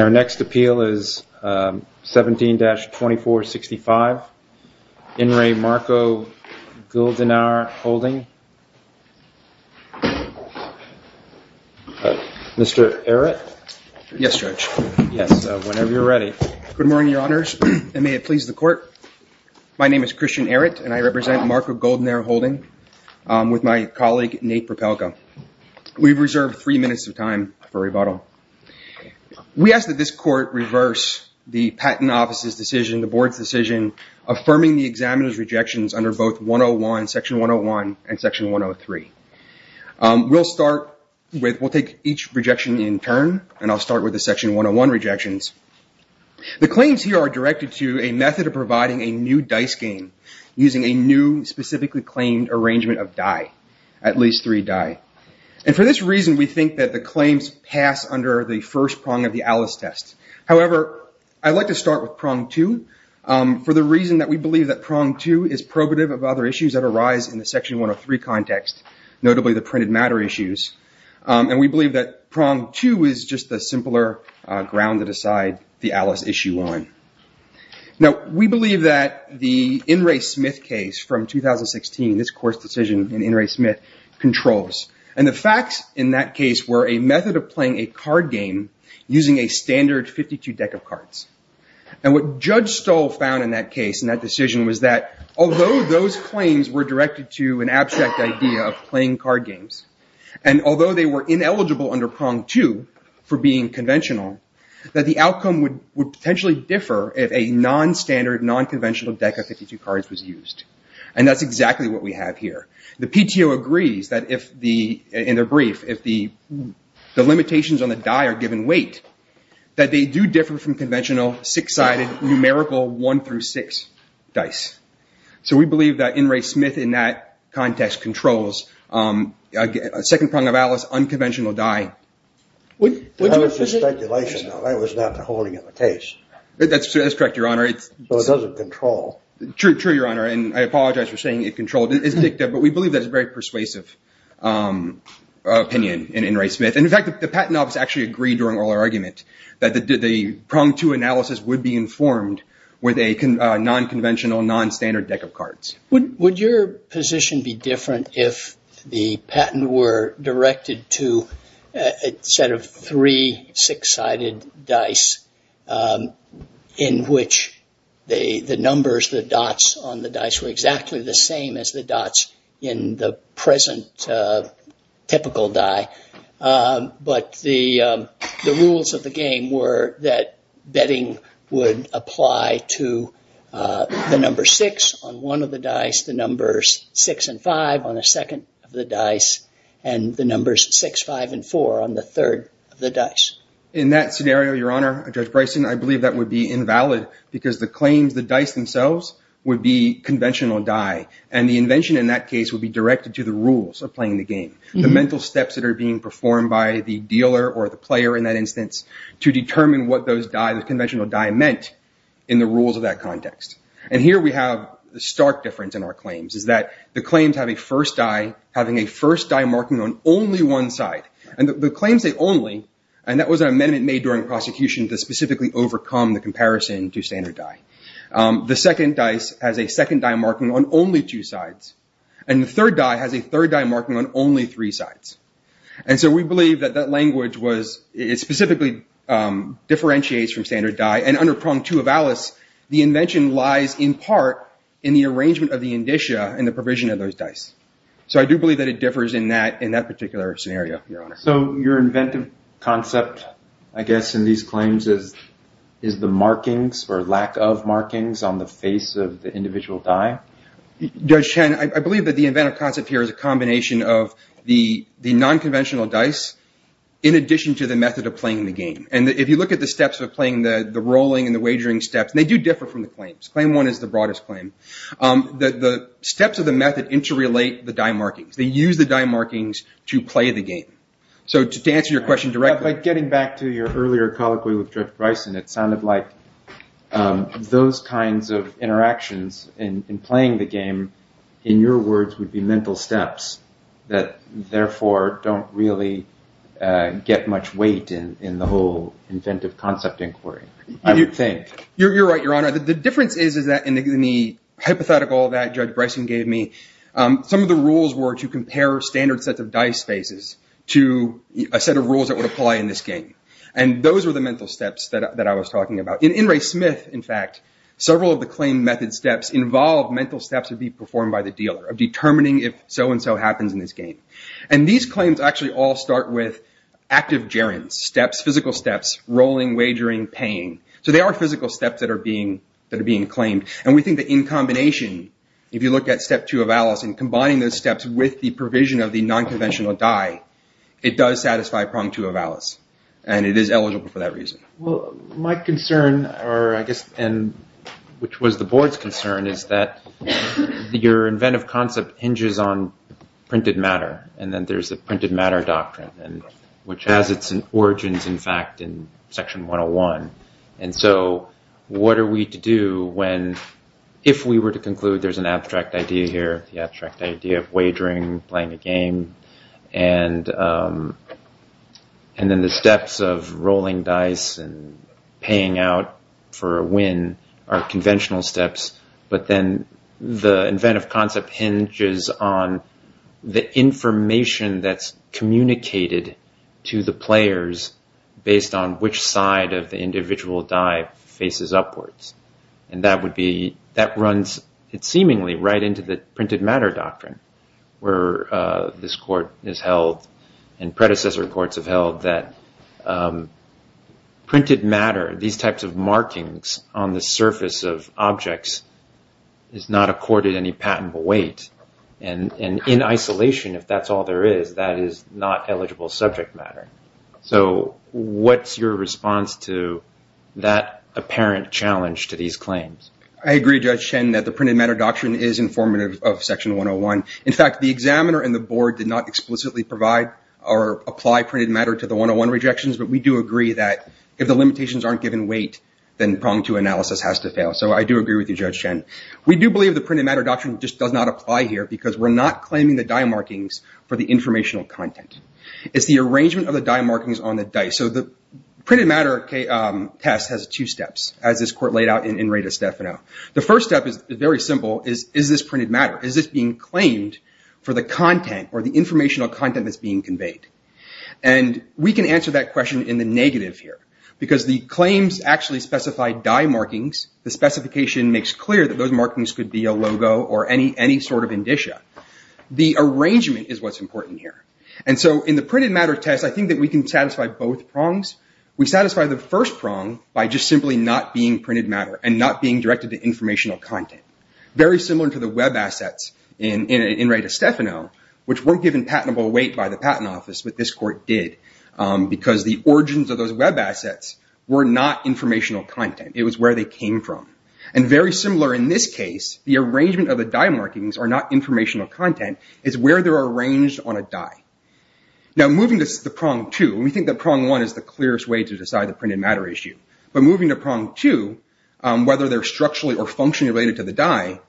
Our next appeal is 17-2465, In Re Marco Guldenaar Holding. We ask that this Court reverse the Patent Office's decision, the Board's decision, affirming the examiner's rejections under both Section 101 and Section 103. We'll take each rejection in turn, and I'll start with the Section 101 rejections. The claims here are directed to a method of providing a new dice game using a new specifically claimed arrangement of die, at least three die. For this reason, we think that the claims pass under the first prong of the Alice test. However, I'd like to start with prong two, for the reason that we believe that prong two is probative of other issues that arise in the Section 103 context, notably the printed matter issues. And we believe that prong two is just the simpler ground to decide the Alice issue on. Now, we believe that the In Re Smith case from 2016, this Court's decision in In Re Smith, controls. And the facts in that case were a method of playing a card game using a standard 52 deck of cards. And what Judge Stoll found in that case, in that decision, was that although those claims were directed to an abstract idea of playing card games, and although they were ineligible under prong two for being conventional, that the outcome would potentially differ if a non-standard, non-conventional deck of 52 cards was used. And that's exactly what we have here. The PTO agrees that if the, in their brief, if the limitations on the die are given weight, that they do differ from conventional, six-sided, numerical one through six dice. So we believe that In Re Smith, in that context, controls a second prong of Alice, unconventional die. That was just speculation, though. That was not the holding of the case. That's correct, Your Honor. But it doesn't control. True, Your Honor. And I apologize for saying it controlled. It's dicta. It's dicta. But we believe that it's a very persuasive opinion in In Re Smith. And in fact, the Patent Office actually agreed during oral argument that the prong two analysis would be informed with a non-conventional, non-standard deck of cards. Would your position be different if the patent were directed to a set of three six-sided dice in which the numbers, the dots on the dice were exactly the same as the dots in the present typical die, but the rules of the game were that betting would apply to the number six on one of the dice, the numbers six and five on the second of the dice, and the numbers six, five, and four on the third of the dice? In that scenario, Your Honor, Judge Bryson, I believe that would be invalid because the claims, the dice themselves, would be conventional die. And the invention in that case would be directed to the rules of playing the game, the mental steps that are being performed by the dealer or the player in that instance to determine what those die, the conventional die, meant in the rules of that context. And here we have the stark difference in our claims is that the claims have a first die having a first die marking on only one side. And the claims say only, and that was an amendment made during the prosecution to specifically overcome the comparison to standard die. The second dice has a second die marking on only two sides, and the third die has a third die marking on only three sides. And so we believe that that language was, it specifically differentiates from standard die, and under prong two of Alice, the invention lies in part in the arrangement of the indicia and the provision of those dice. So I do believe that it differs in that particular scenario, Your Honor. So your inventive concept, I guess, in these claims is the markings or lack of markings on the face of the individual die? Judge Chen, I believe that the inventive concept here is a combination of the non-conventional dice in addition to the method of playing the game. And if you look at the steps of playing the rolling and the wagering steps, they do differ from the claims. Claim one is the broadest claim. The steps of the method interrelate the die markings. They use the die markings to play the game. So to answer your question directly. By getting back to your earlier colloquy with Judge Bryson, it sounded like those kinds of interactions in playing the game, in your words, would be mental steps that therefore don't really get much weight in the whole inventive concept inquiry, I would think. You're right, Your Honor. The difference is that in the hypothetical that Judge Bryson gave me, some of the rules were to compare standard sets of dice faces to a set of rules that would apply in this game. And those were the mental steps that I was talking about. In In Re Smith, in fact, several of the claim method steps involve mental steps to be performed by the dealer, of determining if so and so happens in this game. And these claims actually all start with active gerunds, steps, physical steps, rolling, wagering, paying. So there are physical steps that are being claimed. And we think that in combination, if you look at step two of Alice, and combining those steps with the provision of the non-conventional die, it does satisfy prong two of Alice. And it is eligible for that reason. My concern, or I guess, which was the board's concern, is that your inventive concept hinges on printed matter. And then there's the printed matter doctrine, which has its origins, in fact, in section 101. And so what are we to do when, if we were to conclude there's an abstract idea here, the abstract idea of wagering, playing a game, and then the steps of rolling dice and paying out for a win are conventional steps. But then the inventive concept hinges on the information that's communicated to the players based on which side of the individual die faces upwards. And that would be, that runs seemingly right into the printed matter doctrine, where this court is held, and predecessor courts have held, that printed matter, these types of markings on the surface of objects, is not accorded any patentable weight. And in isolation, if that's all there is, that is not eligible subject matter. So what's your response to that apparent challenge to these claims? I agree, Judge Shen, that the printed matter doctrine is informative of section 101. In fact, the examiner and the board did not explicitly provide or apply printed matter to the 101 rejections, but we do agree that if the limitations aren't given weight, then pronged-to analysis has to fail. So I do agree with you, Judge Shen. We do believe the printed matter doctrine just does not apply here because we're not claiming the die markings for the informational content. It's the arrangement of the die markings on the die. So the printed matter test has two steps, as this court laid out in Reda Stefano. The first step is very simple. Is this printed matter? Is this being claimed for the content or the informational content that's being conveyed? And we can answer that question in the negative here. Because the claims actually specify die markings. The specification makes clear that those markings could be a logo or any sort of indicia. The arrangement is what's important here. So in the printed matter test, I think that we can satisfy both prongs. We satisfy the first prong by just simply not being printed matter and not being directed to informational content. Very similar to the web assets in Reda Stefano, which weren't given patentable weight by the Patent Office, but this court did, because the origins of those web assets were not informational content. It was where they came from. And very similar in this case, the arrangement of the die markings are not informational content. It's where they're arranged on a die. Now moving to the prong two, we think that prong one is the clearest way to decide the printed matter issue. But moving to prong two, whether they're structurally or functionally related to the die,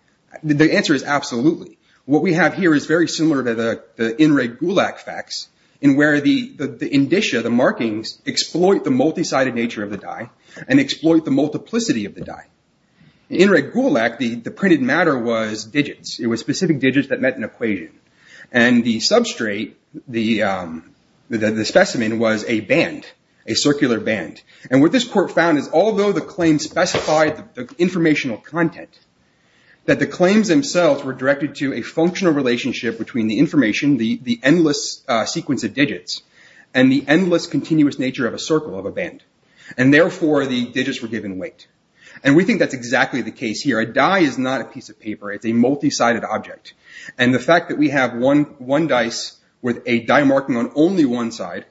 the answer is absolutely. What we have here is very similar to the In Re Gulak facts, in where the indicia, the markings, exploit the multi-sided nature of the die and exploit the multiplicity of the die. In Re Gulak, the printed matter was digits. It was specific digits that met an equation. And the substrate, the specimen, was a band, a circular band. And what this court found is although the claim specified the informational content, that the claims themselves were directed to a functional relationship between the information, the endless sequence of digits, and the endless continuous nature of a circle, of a band. And therefore, the digits were given weight. And we think that's exactly the case here. A die is not a piece of paper. It's a multi-sided object. And the fact that we have one dice with a die marking on only one side,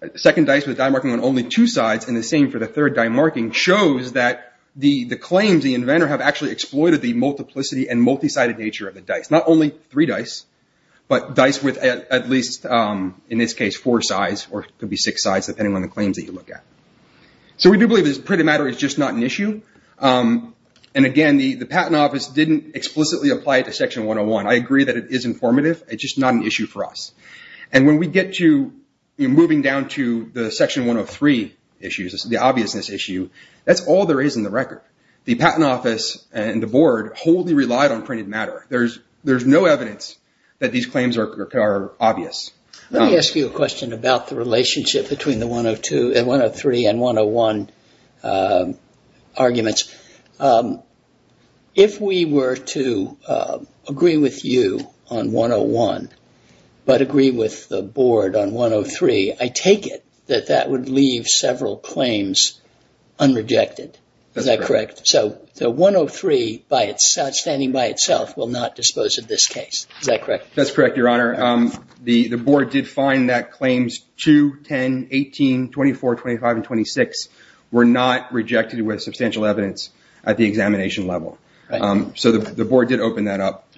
a second dice with a die marking on only two sides, and the same for the third die marking, shows that the claims, the inventor, have actually exploited the multiplicity and multi-sided nature of the dice. Not only three dice, but dice with at least, in this case, four sides, or it could be six sides, depending on the claims that you look at. So we do believe that printed matter is just not an issue. And again, the Patent Office didn't explicitly apply it to Section 101. I agree that it is informative. It's just not an issue for us. And when we get to moving down to the Section 103 issues, the obviousness issue, that's all there is in the record. The Patent Office and the Board wholly relied on printed matter. There's no evidence that these claims are obvious. Let me ask you a question about the relationship between the 103 and 101 arguments. If we were to agree with you on 101, but agree with the Board on 103, I take it that that would leave several claims unrejected. Is that correct? So 103, standing by itself, will not dispose of this case. Is that correct? That's correct, Your Honor. The Board did find that claims 2, 10, 18, 24, 25, and 26 were not rejected with substantial evidence at the examination level. So the Board did open that up.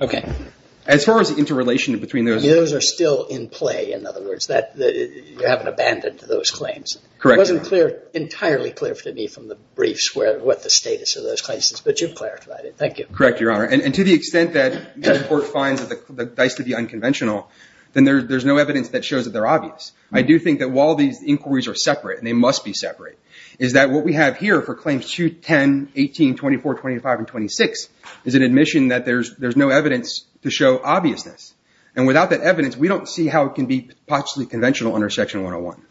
As far as the interrelation between those. Those are still in play, in other words. You haven't abandoned those claims. Correct. It wasn't entirely clear to me from the briefs what the status of those claims is. But you've clarified it. Thank you. Correct, Your Honor. To the extent that the Board finds the dice to be unconventional, then there's no evidence that shows that they're obvious. I do think that while these inquiries are separate, and they must be separate, is that what we have here for claims 2, 10, 18, 24, 25, and 26 is an admission that there's no evidence to show obviousness. Without that evidence, we don't see how it can be possibly conventional under Section 101.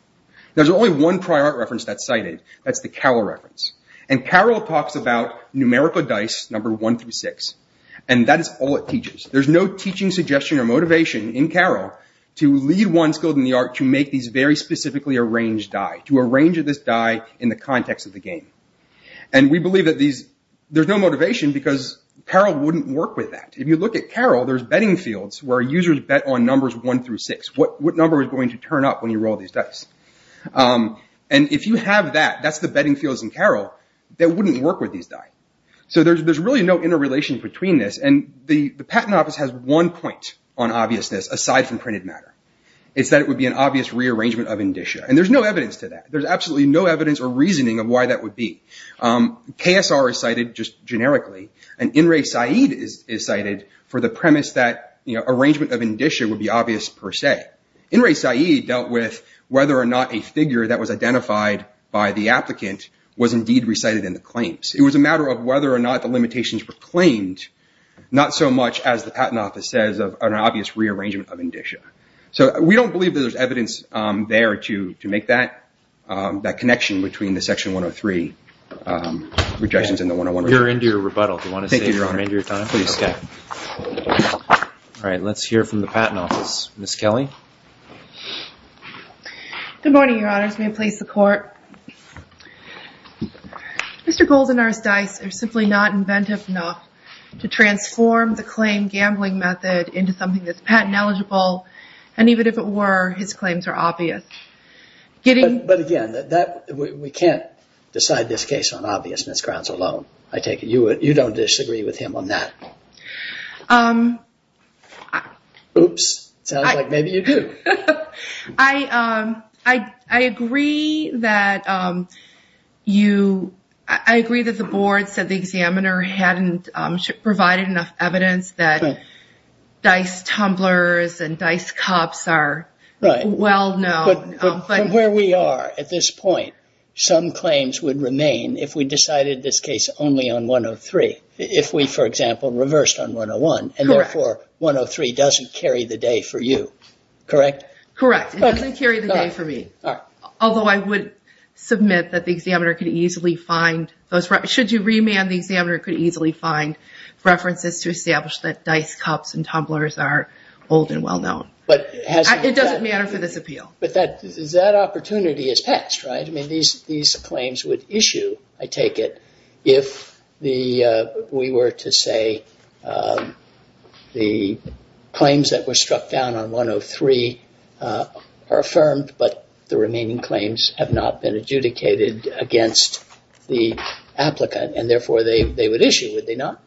There's only one prior reference that's cited. That's the Carroll reference. Carroll talks about numerical dice, number 1 through 6. That is all it teaches. There's no teaching suggestion or motivation in Carroll to lead one skilled in the art to make these very specifically arranged die, to arrange this die in the context of the game. We believe that there's no motivation because Carroll wouldn't work with that. If you look at Carroll, there's betting fields where users bet on numbers 1 through 6. What number is going to turn up when you roll these dice? If you have that, that's the betting fields in Carroll, that wouldn't work with these die. There's really no interrelation between this. The Patent Office has one point on obviousness aside from printed matter. It's that it would be an obvious rearrangement of indicia. There's no evidence to that. There's absolutely no evidence or reasoning of why that would be. KSR is cited just generically, and In Re Saeed is cited for the premise that arrangement of indicia would be obvious per se. In Re Saeed dealt with whether or not a figure that was identified by the applicant was indeed recited in the claims. It was a matter of whether or not the limitations were claimed, not so much, as the Patent Office says, of an obvious rearrangement of indicia. We don't believe that there's evidence there to make that connection between the Section 103 rejections and the 101. You're into your rebuttal. Do you want to say you're into your time? Thank you, Your Honor. Please, Scott. All right. Let's hear from the Patent Office. Ms. Kelly? Good morning, Your Honors. May it please the Court. Mr. Goldenear's dice are simply not inventive enough to transform the claim gambling method into something that's patent eligible, and even if it were, his claims are obvious. But again, we can't decide this case on obviousness grounds alone. I take it you don't disagree with him on that. Oops. Sounds like maybe you do. I agree that the board said the examiner hadn't provided enough evidence that dice tumblers and dice cups are well known. From where we are at this point, some claims would remain if we decided this case only on 103, if we, for example, reversed on 101, and therefore, 103 doesn't carry the day for you. Correct? Correct. It doesn't carry the day for me. All right. Although I would submit that the examiner could easily find those references. Should you remand, the examiner could easily find references to establish that dice cups and tumblers are old and well known. It doesn't matter for this appeal. But that opportunity has passed, right? These claims would issue, I take it, if we were to say the claims that were struck down on 103 are affirmed, but the remaining claims have not been adjudicated against the applicant, and therefore, they would issue, would they not?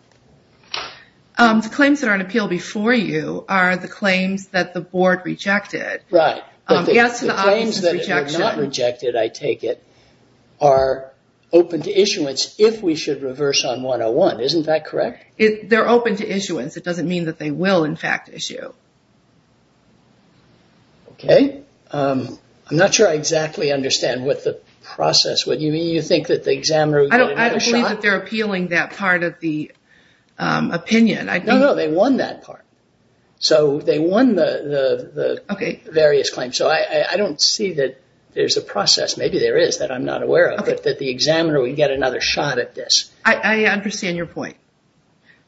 The claims that are on appeal before you are the claims that the board rejected. Right. But the claims that were not rejected, I take it, are open to issuance if we should reverse on 101. Isn't that correct? They're open to issuance. It doesn't mean that they will, in fact, issue. Okay. I'm not sure I exactly understand what the process, what you mean, you think that the examiner would get another shot? I don't believe that they're appealing that part of the opinion. No, no, they won that part. So, they won the various claims. So, I don't see that there's a process, maybe there is, that I'm not aware of, that the examiner would get another shot at this. I understand your point.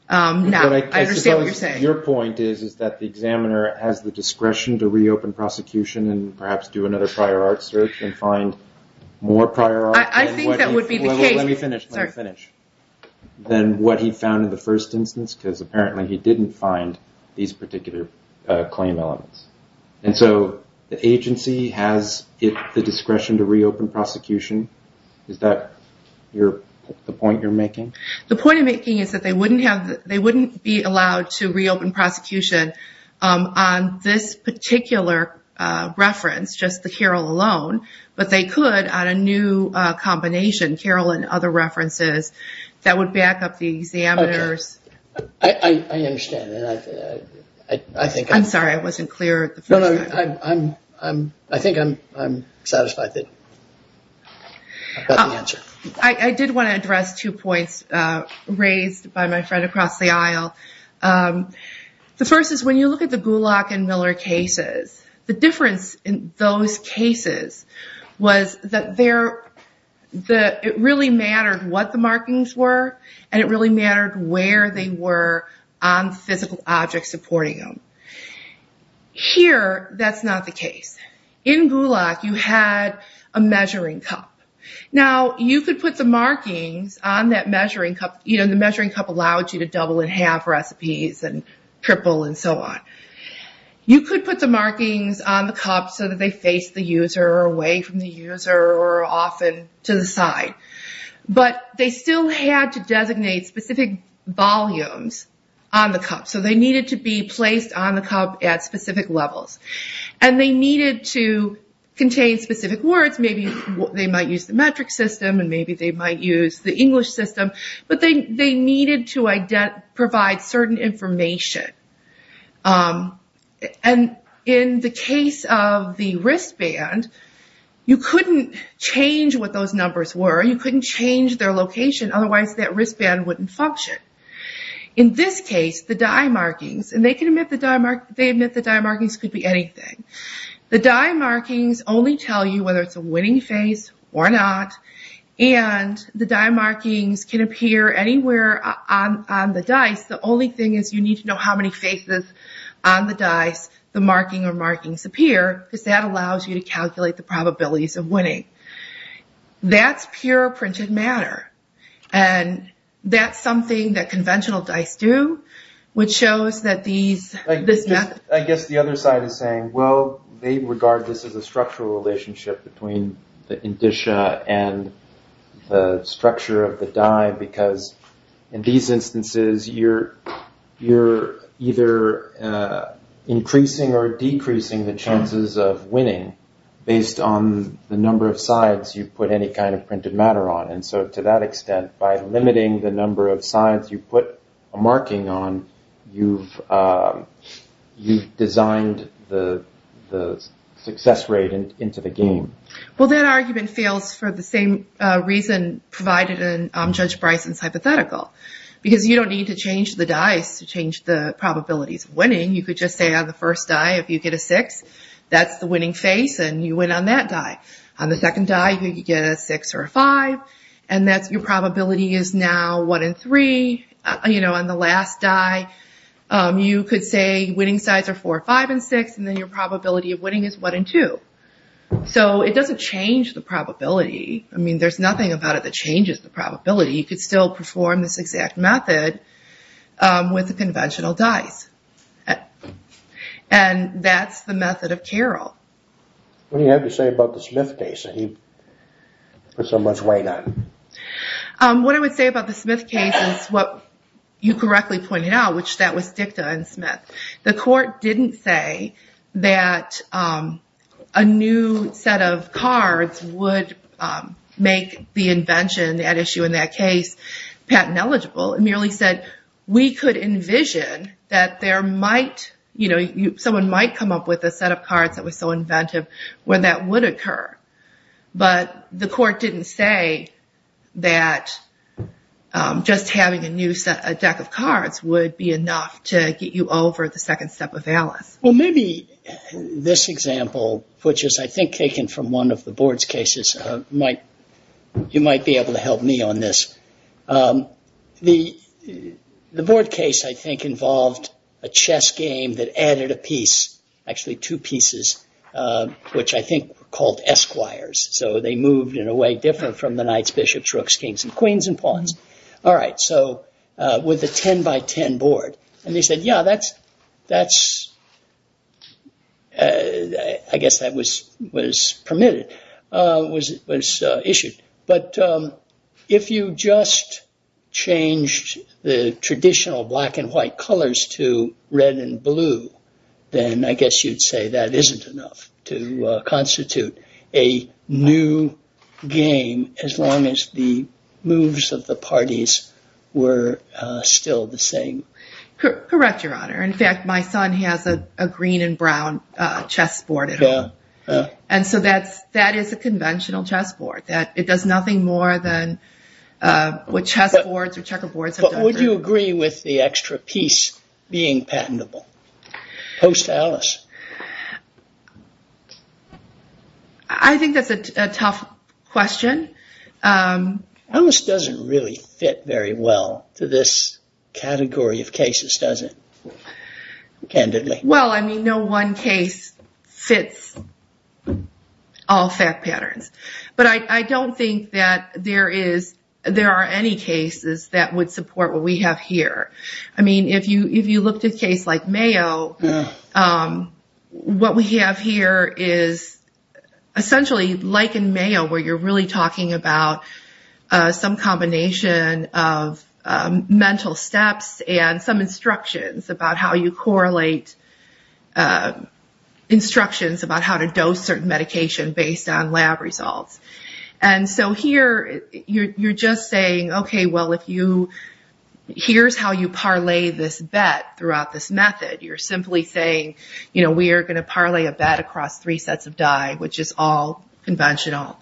Now, I understand what you're saying. Your point is that the examiner has the discretion to reopen prosecution and perhaps do another prior art search and find more prior art. I think that would be the case. Let me finish. Let me finish. So, he went down in the first instance because apparently he didn't find these particular claim elements. And so, the agency has the discretion to reopen prosecution. Is that the point you're making? The point I'm making is that they wouldn't be allowed to reopen prosecution on this particular reference, just the Carroll alone, but they could on a new combination, Carroll and other I understand that. I'm sorry, I wasn't clear. I think I'm satisfied that I got the answer. I did want to address two points raised by my friend across the aisle. The first is when you look at the Gulach and Miller cases, the difference in those cases was that it really mattered what the markings were and it really mattered where they were on physical objects supporting them. Here, that's not the case. In Gulach, you had a measuring cup. Now, you could put the markings on that measuring cup. The measuring cup allowed you to double and half recipes and triple and so on. You could put the markings on the cup so that they faced the user or away from the user or often to the side. But, they still had to designate specific volumes on the cup. So, they needed to be placed on the cup at specific levels. And they needed to contain specific words. Maybe they might use the metric system and maybe they might use the English system. But, they needed to provide certain information. In the case of the wristband, you couldn't change what those numbers were. You couldn't change their location. Otherwise, that wristband wouldn't function. In this case, the die markings, and they admit the die markings could be anything. The die markings only tell you whether it's a winning face or not. And, the die markings can appear anywhere on the dice. The only thing is you need to know how many faces on the dice the marking or markings appear. Because that allows you to calculate the probabilities of winning. That's pure printed matter. And, that's something that conventional dice do. Which shows that these, this method... I guess the other side is saying, well, they regard this as a structural relationship between the indicia and the structure of the die. Because, in these instances, you're either increasing or decreasing the chances of winning based on the number of sides you put any kind of printed matter on. And so, to that extent, by limiting the number of sides you put a marking on, you've designed the success rate into the game. Well, that argument fails for the same reason provided in Judge Bryson's hypothetical. Because you don't need to change the dice to change the probabilities of winning. You could just say on the first die, if you get a six, that's the winning face. And, you win on that die. On the second die, you could get a six or a five. And, your probability is now one in three. You know, on the last die, you could say winning sides are four, five, and six. And, then your probability of winning is one in two. So, it doesn't change the probability. I mean, there's nothing about it that changes the probability. You could still perform this exact method with the conventional dice. And, that's the method of Carroll. What do you have to say about the Smith case that he put so much weight on? What I would say about the Smith case is what you correctly pointed out, which that was dicta in Smith. The court didn't say that a new set of cards would make the invention at issue in that case patent eligible. It merely said we could envision that there might, you know, someone might come up with a set of cards that was so inventive where that would occur. But, the court didn't say that just having a new deck of cards would be enough to get you over the second step of Alice. Well, maybe this example, which is, I think, taken from one of the board's cases, you might be able to help me on this. The board case, I think, involved a chess game that added a piece, actually two pieces, which I think were called esquires. So, they moved in a way different from the knights, bishops, rooks, kings, and queens and pawns. All right, so, with a 10 by 10 board. And, they said, yeah, that's, I guess that was permitted, was issued. But, if you just changed the traditional black and white colors to red and blue, then I guess you'd say that isn't enough to constitute a new game as long as the moves of the parties were still the same. Correct, Your Honor. In fact, my son has a green and brown chess board at home. And so, that is a conventional chess board. It does nothing more than what chess boards or checkerboards have done. Would you agree with the extra piece being patentable? Post Alice? I think that's a tough question. Alice doesn't really fit very well to this category of cases, does it? Candidly. Well, I mean, no one case fits all fact patterns. But, I don't think that there are any cases that would support what we have here. I mean, if you looked at a case like Mayo, what we have here is, essentially, like in Mayo, where you're really talking about some combination of mental steps and some instructions about how you correlate instructions about how to dose certain medication based on lab results. And so, here, you're just saying, okay, well, here's how you parlay this bet throughout this method. You're simply saying, you know, we are going to parlay a bet across three sets of die, which is all conventional.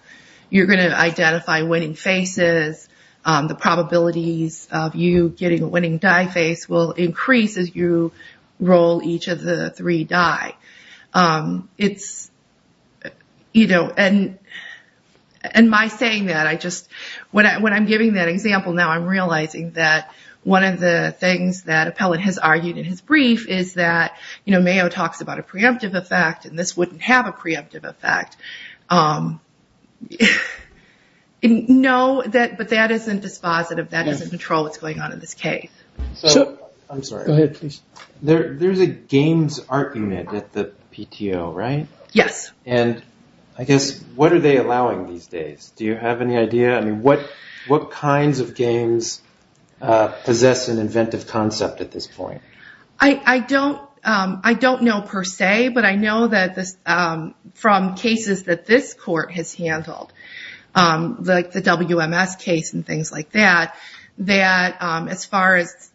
You're going to identify winning faces. The probabilities of you getting a winning die face will increase as you roll each of the three die. It's, you know, and my saying that, I just, when I'm giving that example now, I'm realizing that one of the things that Appellate has argued in his brief is that, you know, Mayo talks about a preemptive effect and this wouldn't have a preemptive effect. No, but that isn't dispositive. That doesn't control what's going on in this case. I'm sorry. Go ahead, please. There's a Games Art Unit at the PTO, right? Yes. And I guess, what are they allowing these days? Do you have any idea? I mean, what kinds of games possess an inventive concept at this point? I don't know per se, but I know that from cases that this court has handled, like the WMS case and things like that, that as far as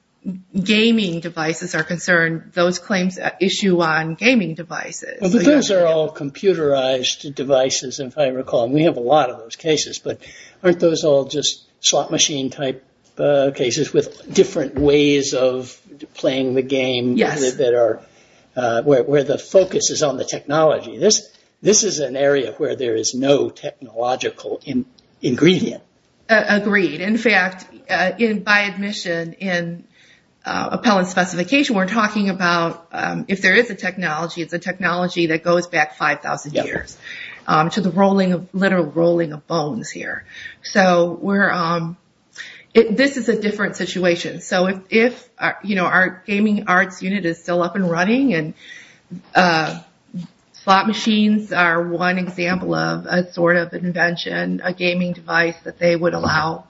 gaming devices are concerned, those claims issue on gaming devices. But those are all computerized devices, if I recall. We have a lot of those cases, but aren't those all just slot machine type cases with different ways of playing the game where the focus is on the technology? This is an area where there is no technological ingredient. Agreed. In fact, by admission in appellate specification, we're talking about if there is a technology, it's a technology that goes back 5,000 years to the literal rolling of bones here. So this is a different situation. So if our Gaming Arts Unit is still up and running and slot machines are one example of a sort of invention, a gaming device that they would allow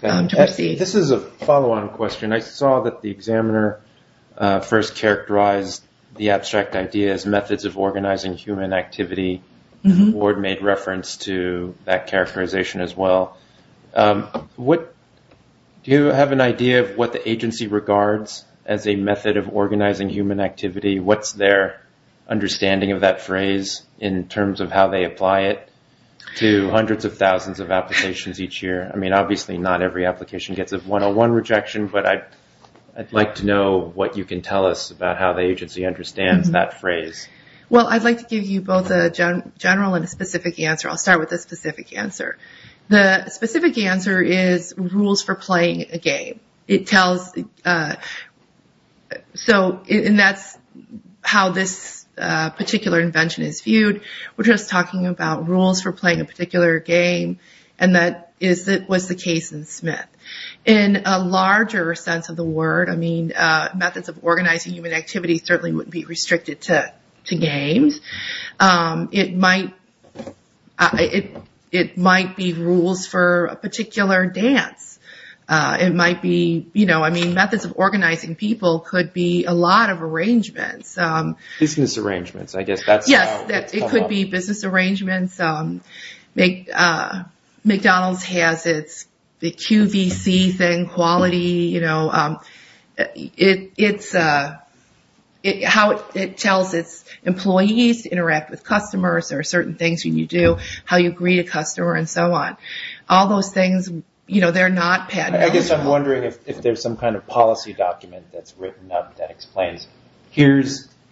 to receive. This is a follow-on question. I saw that the examiner first characterized the abstract idea as methods of organizing human activity. Ward made reference to that characterization as well. Do you have an idea of what the agency regards as a method of organizing human activity? What's their understanding of that phrase in terms of how they apply it to hundreds of thousands of applications each year? Obviously not every application gets a 101 rejection, but I'd like to know what you can tell us about how the agency understands that phrase. I'd like to give you both a general and a specific answer. I'll start with the specific answer. The specific answer is rules for playing a game. And that's how this particular invention is viewed. We're just talking about rules for playing a particular game and that was the case in Smith. In a larger sense of the word, methods of organizing human activity certainly wouldn't be restricted to games. It might be rules for a particular dance. Methods of organizing people could be a lot of arrangements. Business arrangements, I guess that's how it's called. Yes, it could be business arrangements. McDonald's has its QVC thing, quality. It tells its employees to interact with customers or certain things when you do, how you greet a customer and so on. All those things, they're not padded. I guess I'm wondering if there's some kind of policy document that's written up that explains,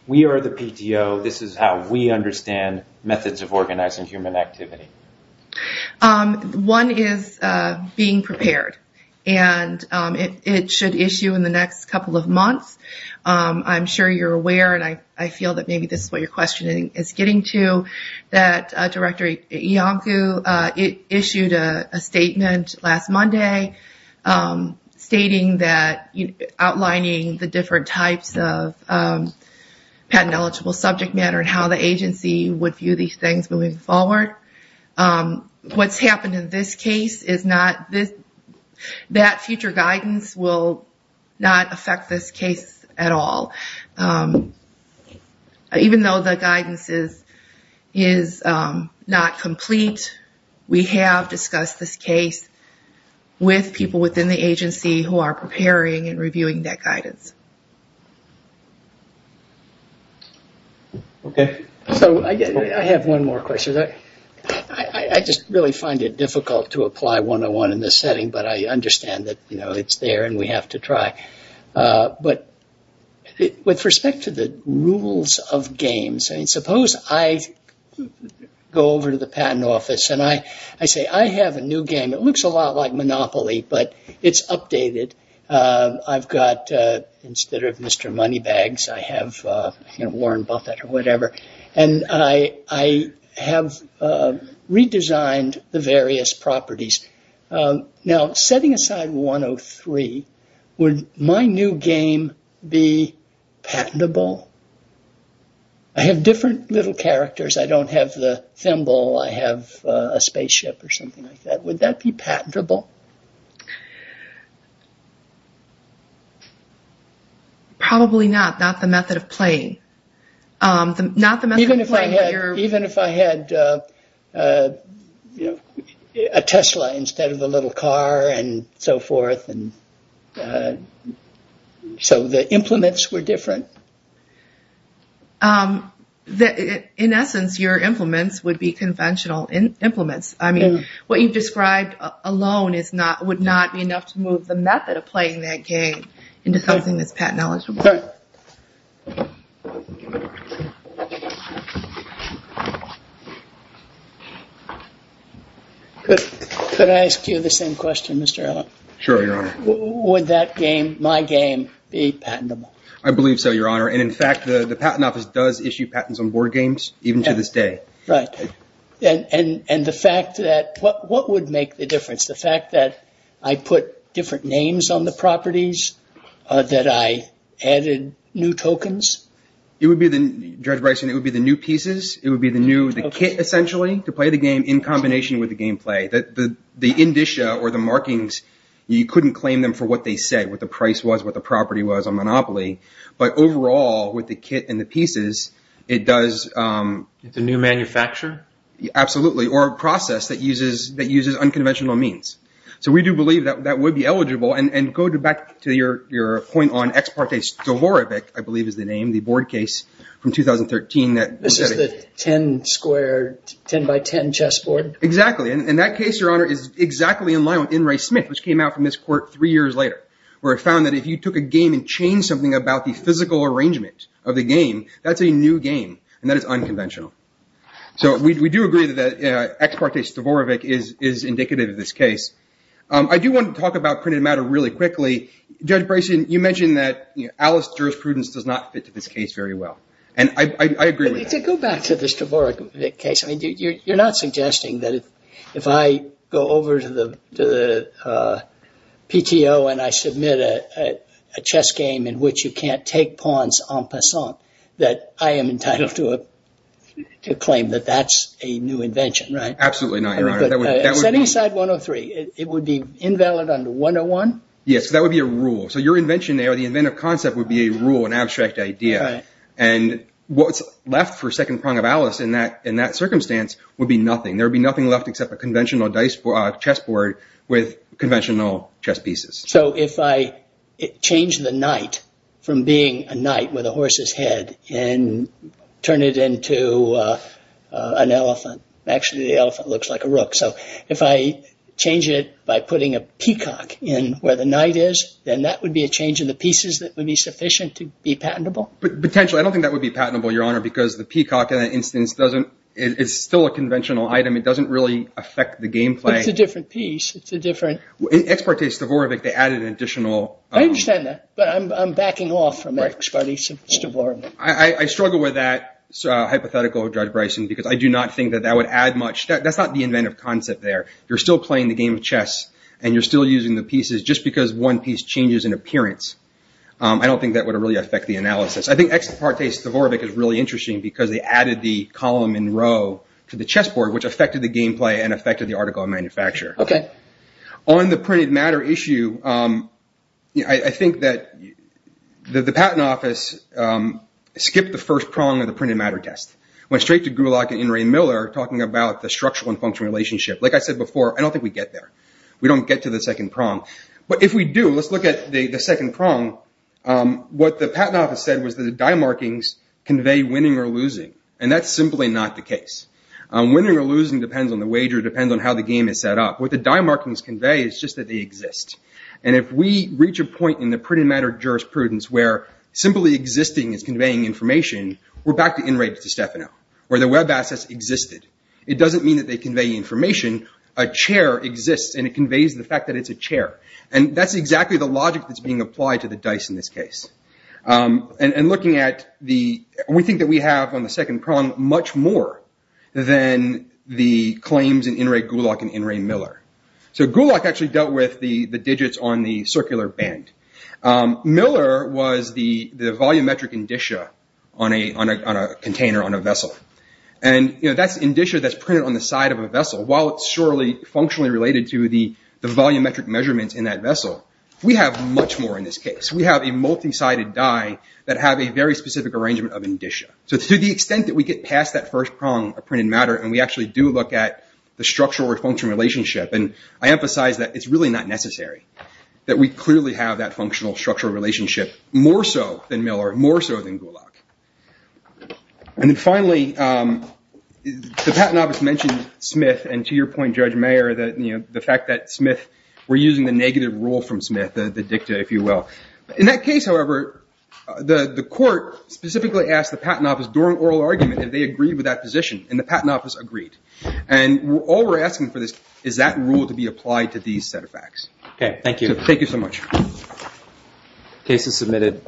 we are the PTO, this is how we understand methods of organizing human activity. One is being prepared. It should issue in the next couple of months. I'm sure you're aware, and I feel that maybe this is what your question is getting to, that Director Iancu issued a statement last Monday stating that, outlining the different types of patent-eligible subject matter and how the agency would view these things moving forward. What's happened in this case is not, that future guidance will not affect this case at all. Even though the guidance is not complete, we have discussed this case with people within the agency who are preparing and reviewing that guidance. I have one more question. I just really find it difficult to apply 101 in this setting, but I understand that it's there and we have to try. But with respect to the rules of games, suppose I go over to the patent office and I say, I have a new game. It looks a lot like Monopoly, but it's updated. I've got, instead of Mr. Moneybags, I have Warren Buffett or whatever, and I have redesigned the various properties. Now, setting aside 103, would my new game be patentable? I have different little characters. I don't have the thimble. I have a spaceship or something like that. Would that be patentable? Probably not. Not the method of playing. Even if I had a Tesla instead of a little car and so forth? So the implements were different? In essence, your implements would be conventional implements. What you've described alone would not be enough to move the method of playing that game into something that's patent eligible. All right. Could I ask you the same question, Mr. Allen? Sure, Your Honor. Would that game, my game, be patentable? I believe so, Your Honor. And in fact, the patent office does issue patents on board games even to this day. Right. And the fact that, what would make the difference? The fact that I put different names on the properties that I added new tokens? Judge Bryson, it would be the new pieces. It would be the kit, essentially, to play the game in combination with the gameplay. The indicia or the markings, you couldn't claim them for what they said, what the price was, what the property was on Monopoly. But overall, with the kit and the pieces, it does... It's a new manufacture? Absolutely. Or a process that uses unconventional means. So we do believe that that would be eligible. And go back to your point on Ex Parte Stavorevic, I believe is the name, the board case from 2013... This is the 10-square, 10-by-10 chess board? Exactly. And that case, Your Honor, is exactly in line with In re Smith, which came out from this court three years later, where it found that if you took a game and changed something about the physical arrangement of the game, that's a new game, and that is unconventional. So we do agree that Ex Parte Stavorevic is indicative of this case. I do want to talk about printed matter really quickly. Judge Bryson, you mentioned that Alice jurisprudence does not fit to this case very well. And I agree with that. To go back to the Stavorevic case, you're not suggesting that if I go over to the PTO and I submit a chess game in which you can't take pawns en passant, that I am entitled to claim that that's a new invention, right? Absolutely not, Your Honor. Setting aside 103, it would be invalid under 101? Yes, that would be a rule. So your invention there, the inventive concept, would be a rule, an abstract idea. And what's left for second prong of Alice in that circumstance would be nothing. There would be nothing left except a conventional chess board with conventional chess pieces. So if I change the knight from being a knight with a horse's head and turn it into an elephant, actually the elephant looks like a rook. So if I change it by putting a peacock in where the knight is, then that would be a change in the pieces that would be sufficient to be patentable? Potentially. I don't think that would be patentable, Your Honor, because the peacock in that instance is still a conventional item. It doesn't really affect the gameplay. But it's a different piece. It's a different... In Ex parte Stavorevic, they added an additional... I understand that. But I'm backing off from Ex parte Stavorevic. I struggle with that hypothetical, Judge Bryson, because I do not think that that would add much. That's not the inventive concept there. You're still playing the game of chess and you're still using the pieces just because one piece changes in appearance. I don't think that would really affect the analysis. I think Ex parte Stavorevic is really interesting because they added the column in row to the chess board which affected the gameplay and affected the article of manufacture. Okay. On the printed matter issue, I think that the Patent Office skipped the first prong of the printed matter test. Went straight to Gulak and Inrei Miller talking about the structural and functional relationship. Like I said before, I don't think we get there. We don't get to the second prong. But if we do, let's look at the second prong. What the Patent Office said was that the die markings convey winning or losing. And that's simply not the case. Winning or losing depends on the wager, depends on how the game is set up. What the die markings convey is just that they exist. And if we reach a point in the printed matter jurisprudence where simply existing is conveying information, we're back to Inrei DiStefano where the web assets existed. It doesn't mean that they convey information. A chair exists and it conveys the fact that it's a chair. And that's exactly the logic that's being applied to the dice in this case. And looking at the... We think that we have on the second prong much more than the claims in Inrei Gulak and Inrei Miller. So Gulak actually dealt with the digits on the circular band. Miller was the volumetric indicia on a container, on a vessel. And that's indicia that's printed on the side of a vessel while it's surely functionally related to the volumetric measurements in that vessel. We have much more in this case. We have a multi-sided die that have a very specific arrangement of indicia. So to the extent that we get past that first prong of printed matter and we actually do look at the structural or functional relationship and I emphasize that it's really not necessary that we clearly have that functional structural relationship more so than Miller, more so than Gulak. And finally, the Patent Office mentioned Smith and to your point, Judge Mayer, the fact that Smith... We're using the negative rule from Smith, the dicta, if you will. In that case, however, the court specifically asked the Patent Office during oral argument if they agreed with that position and the Patent Office agreed. And all we're asking for is that rule to be applied to these set of facts. Thank you so much. Case is submitted.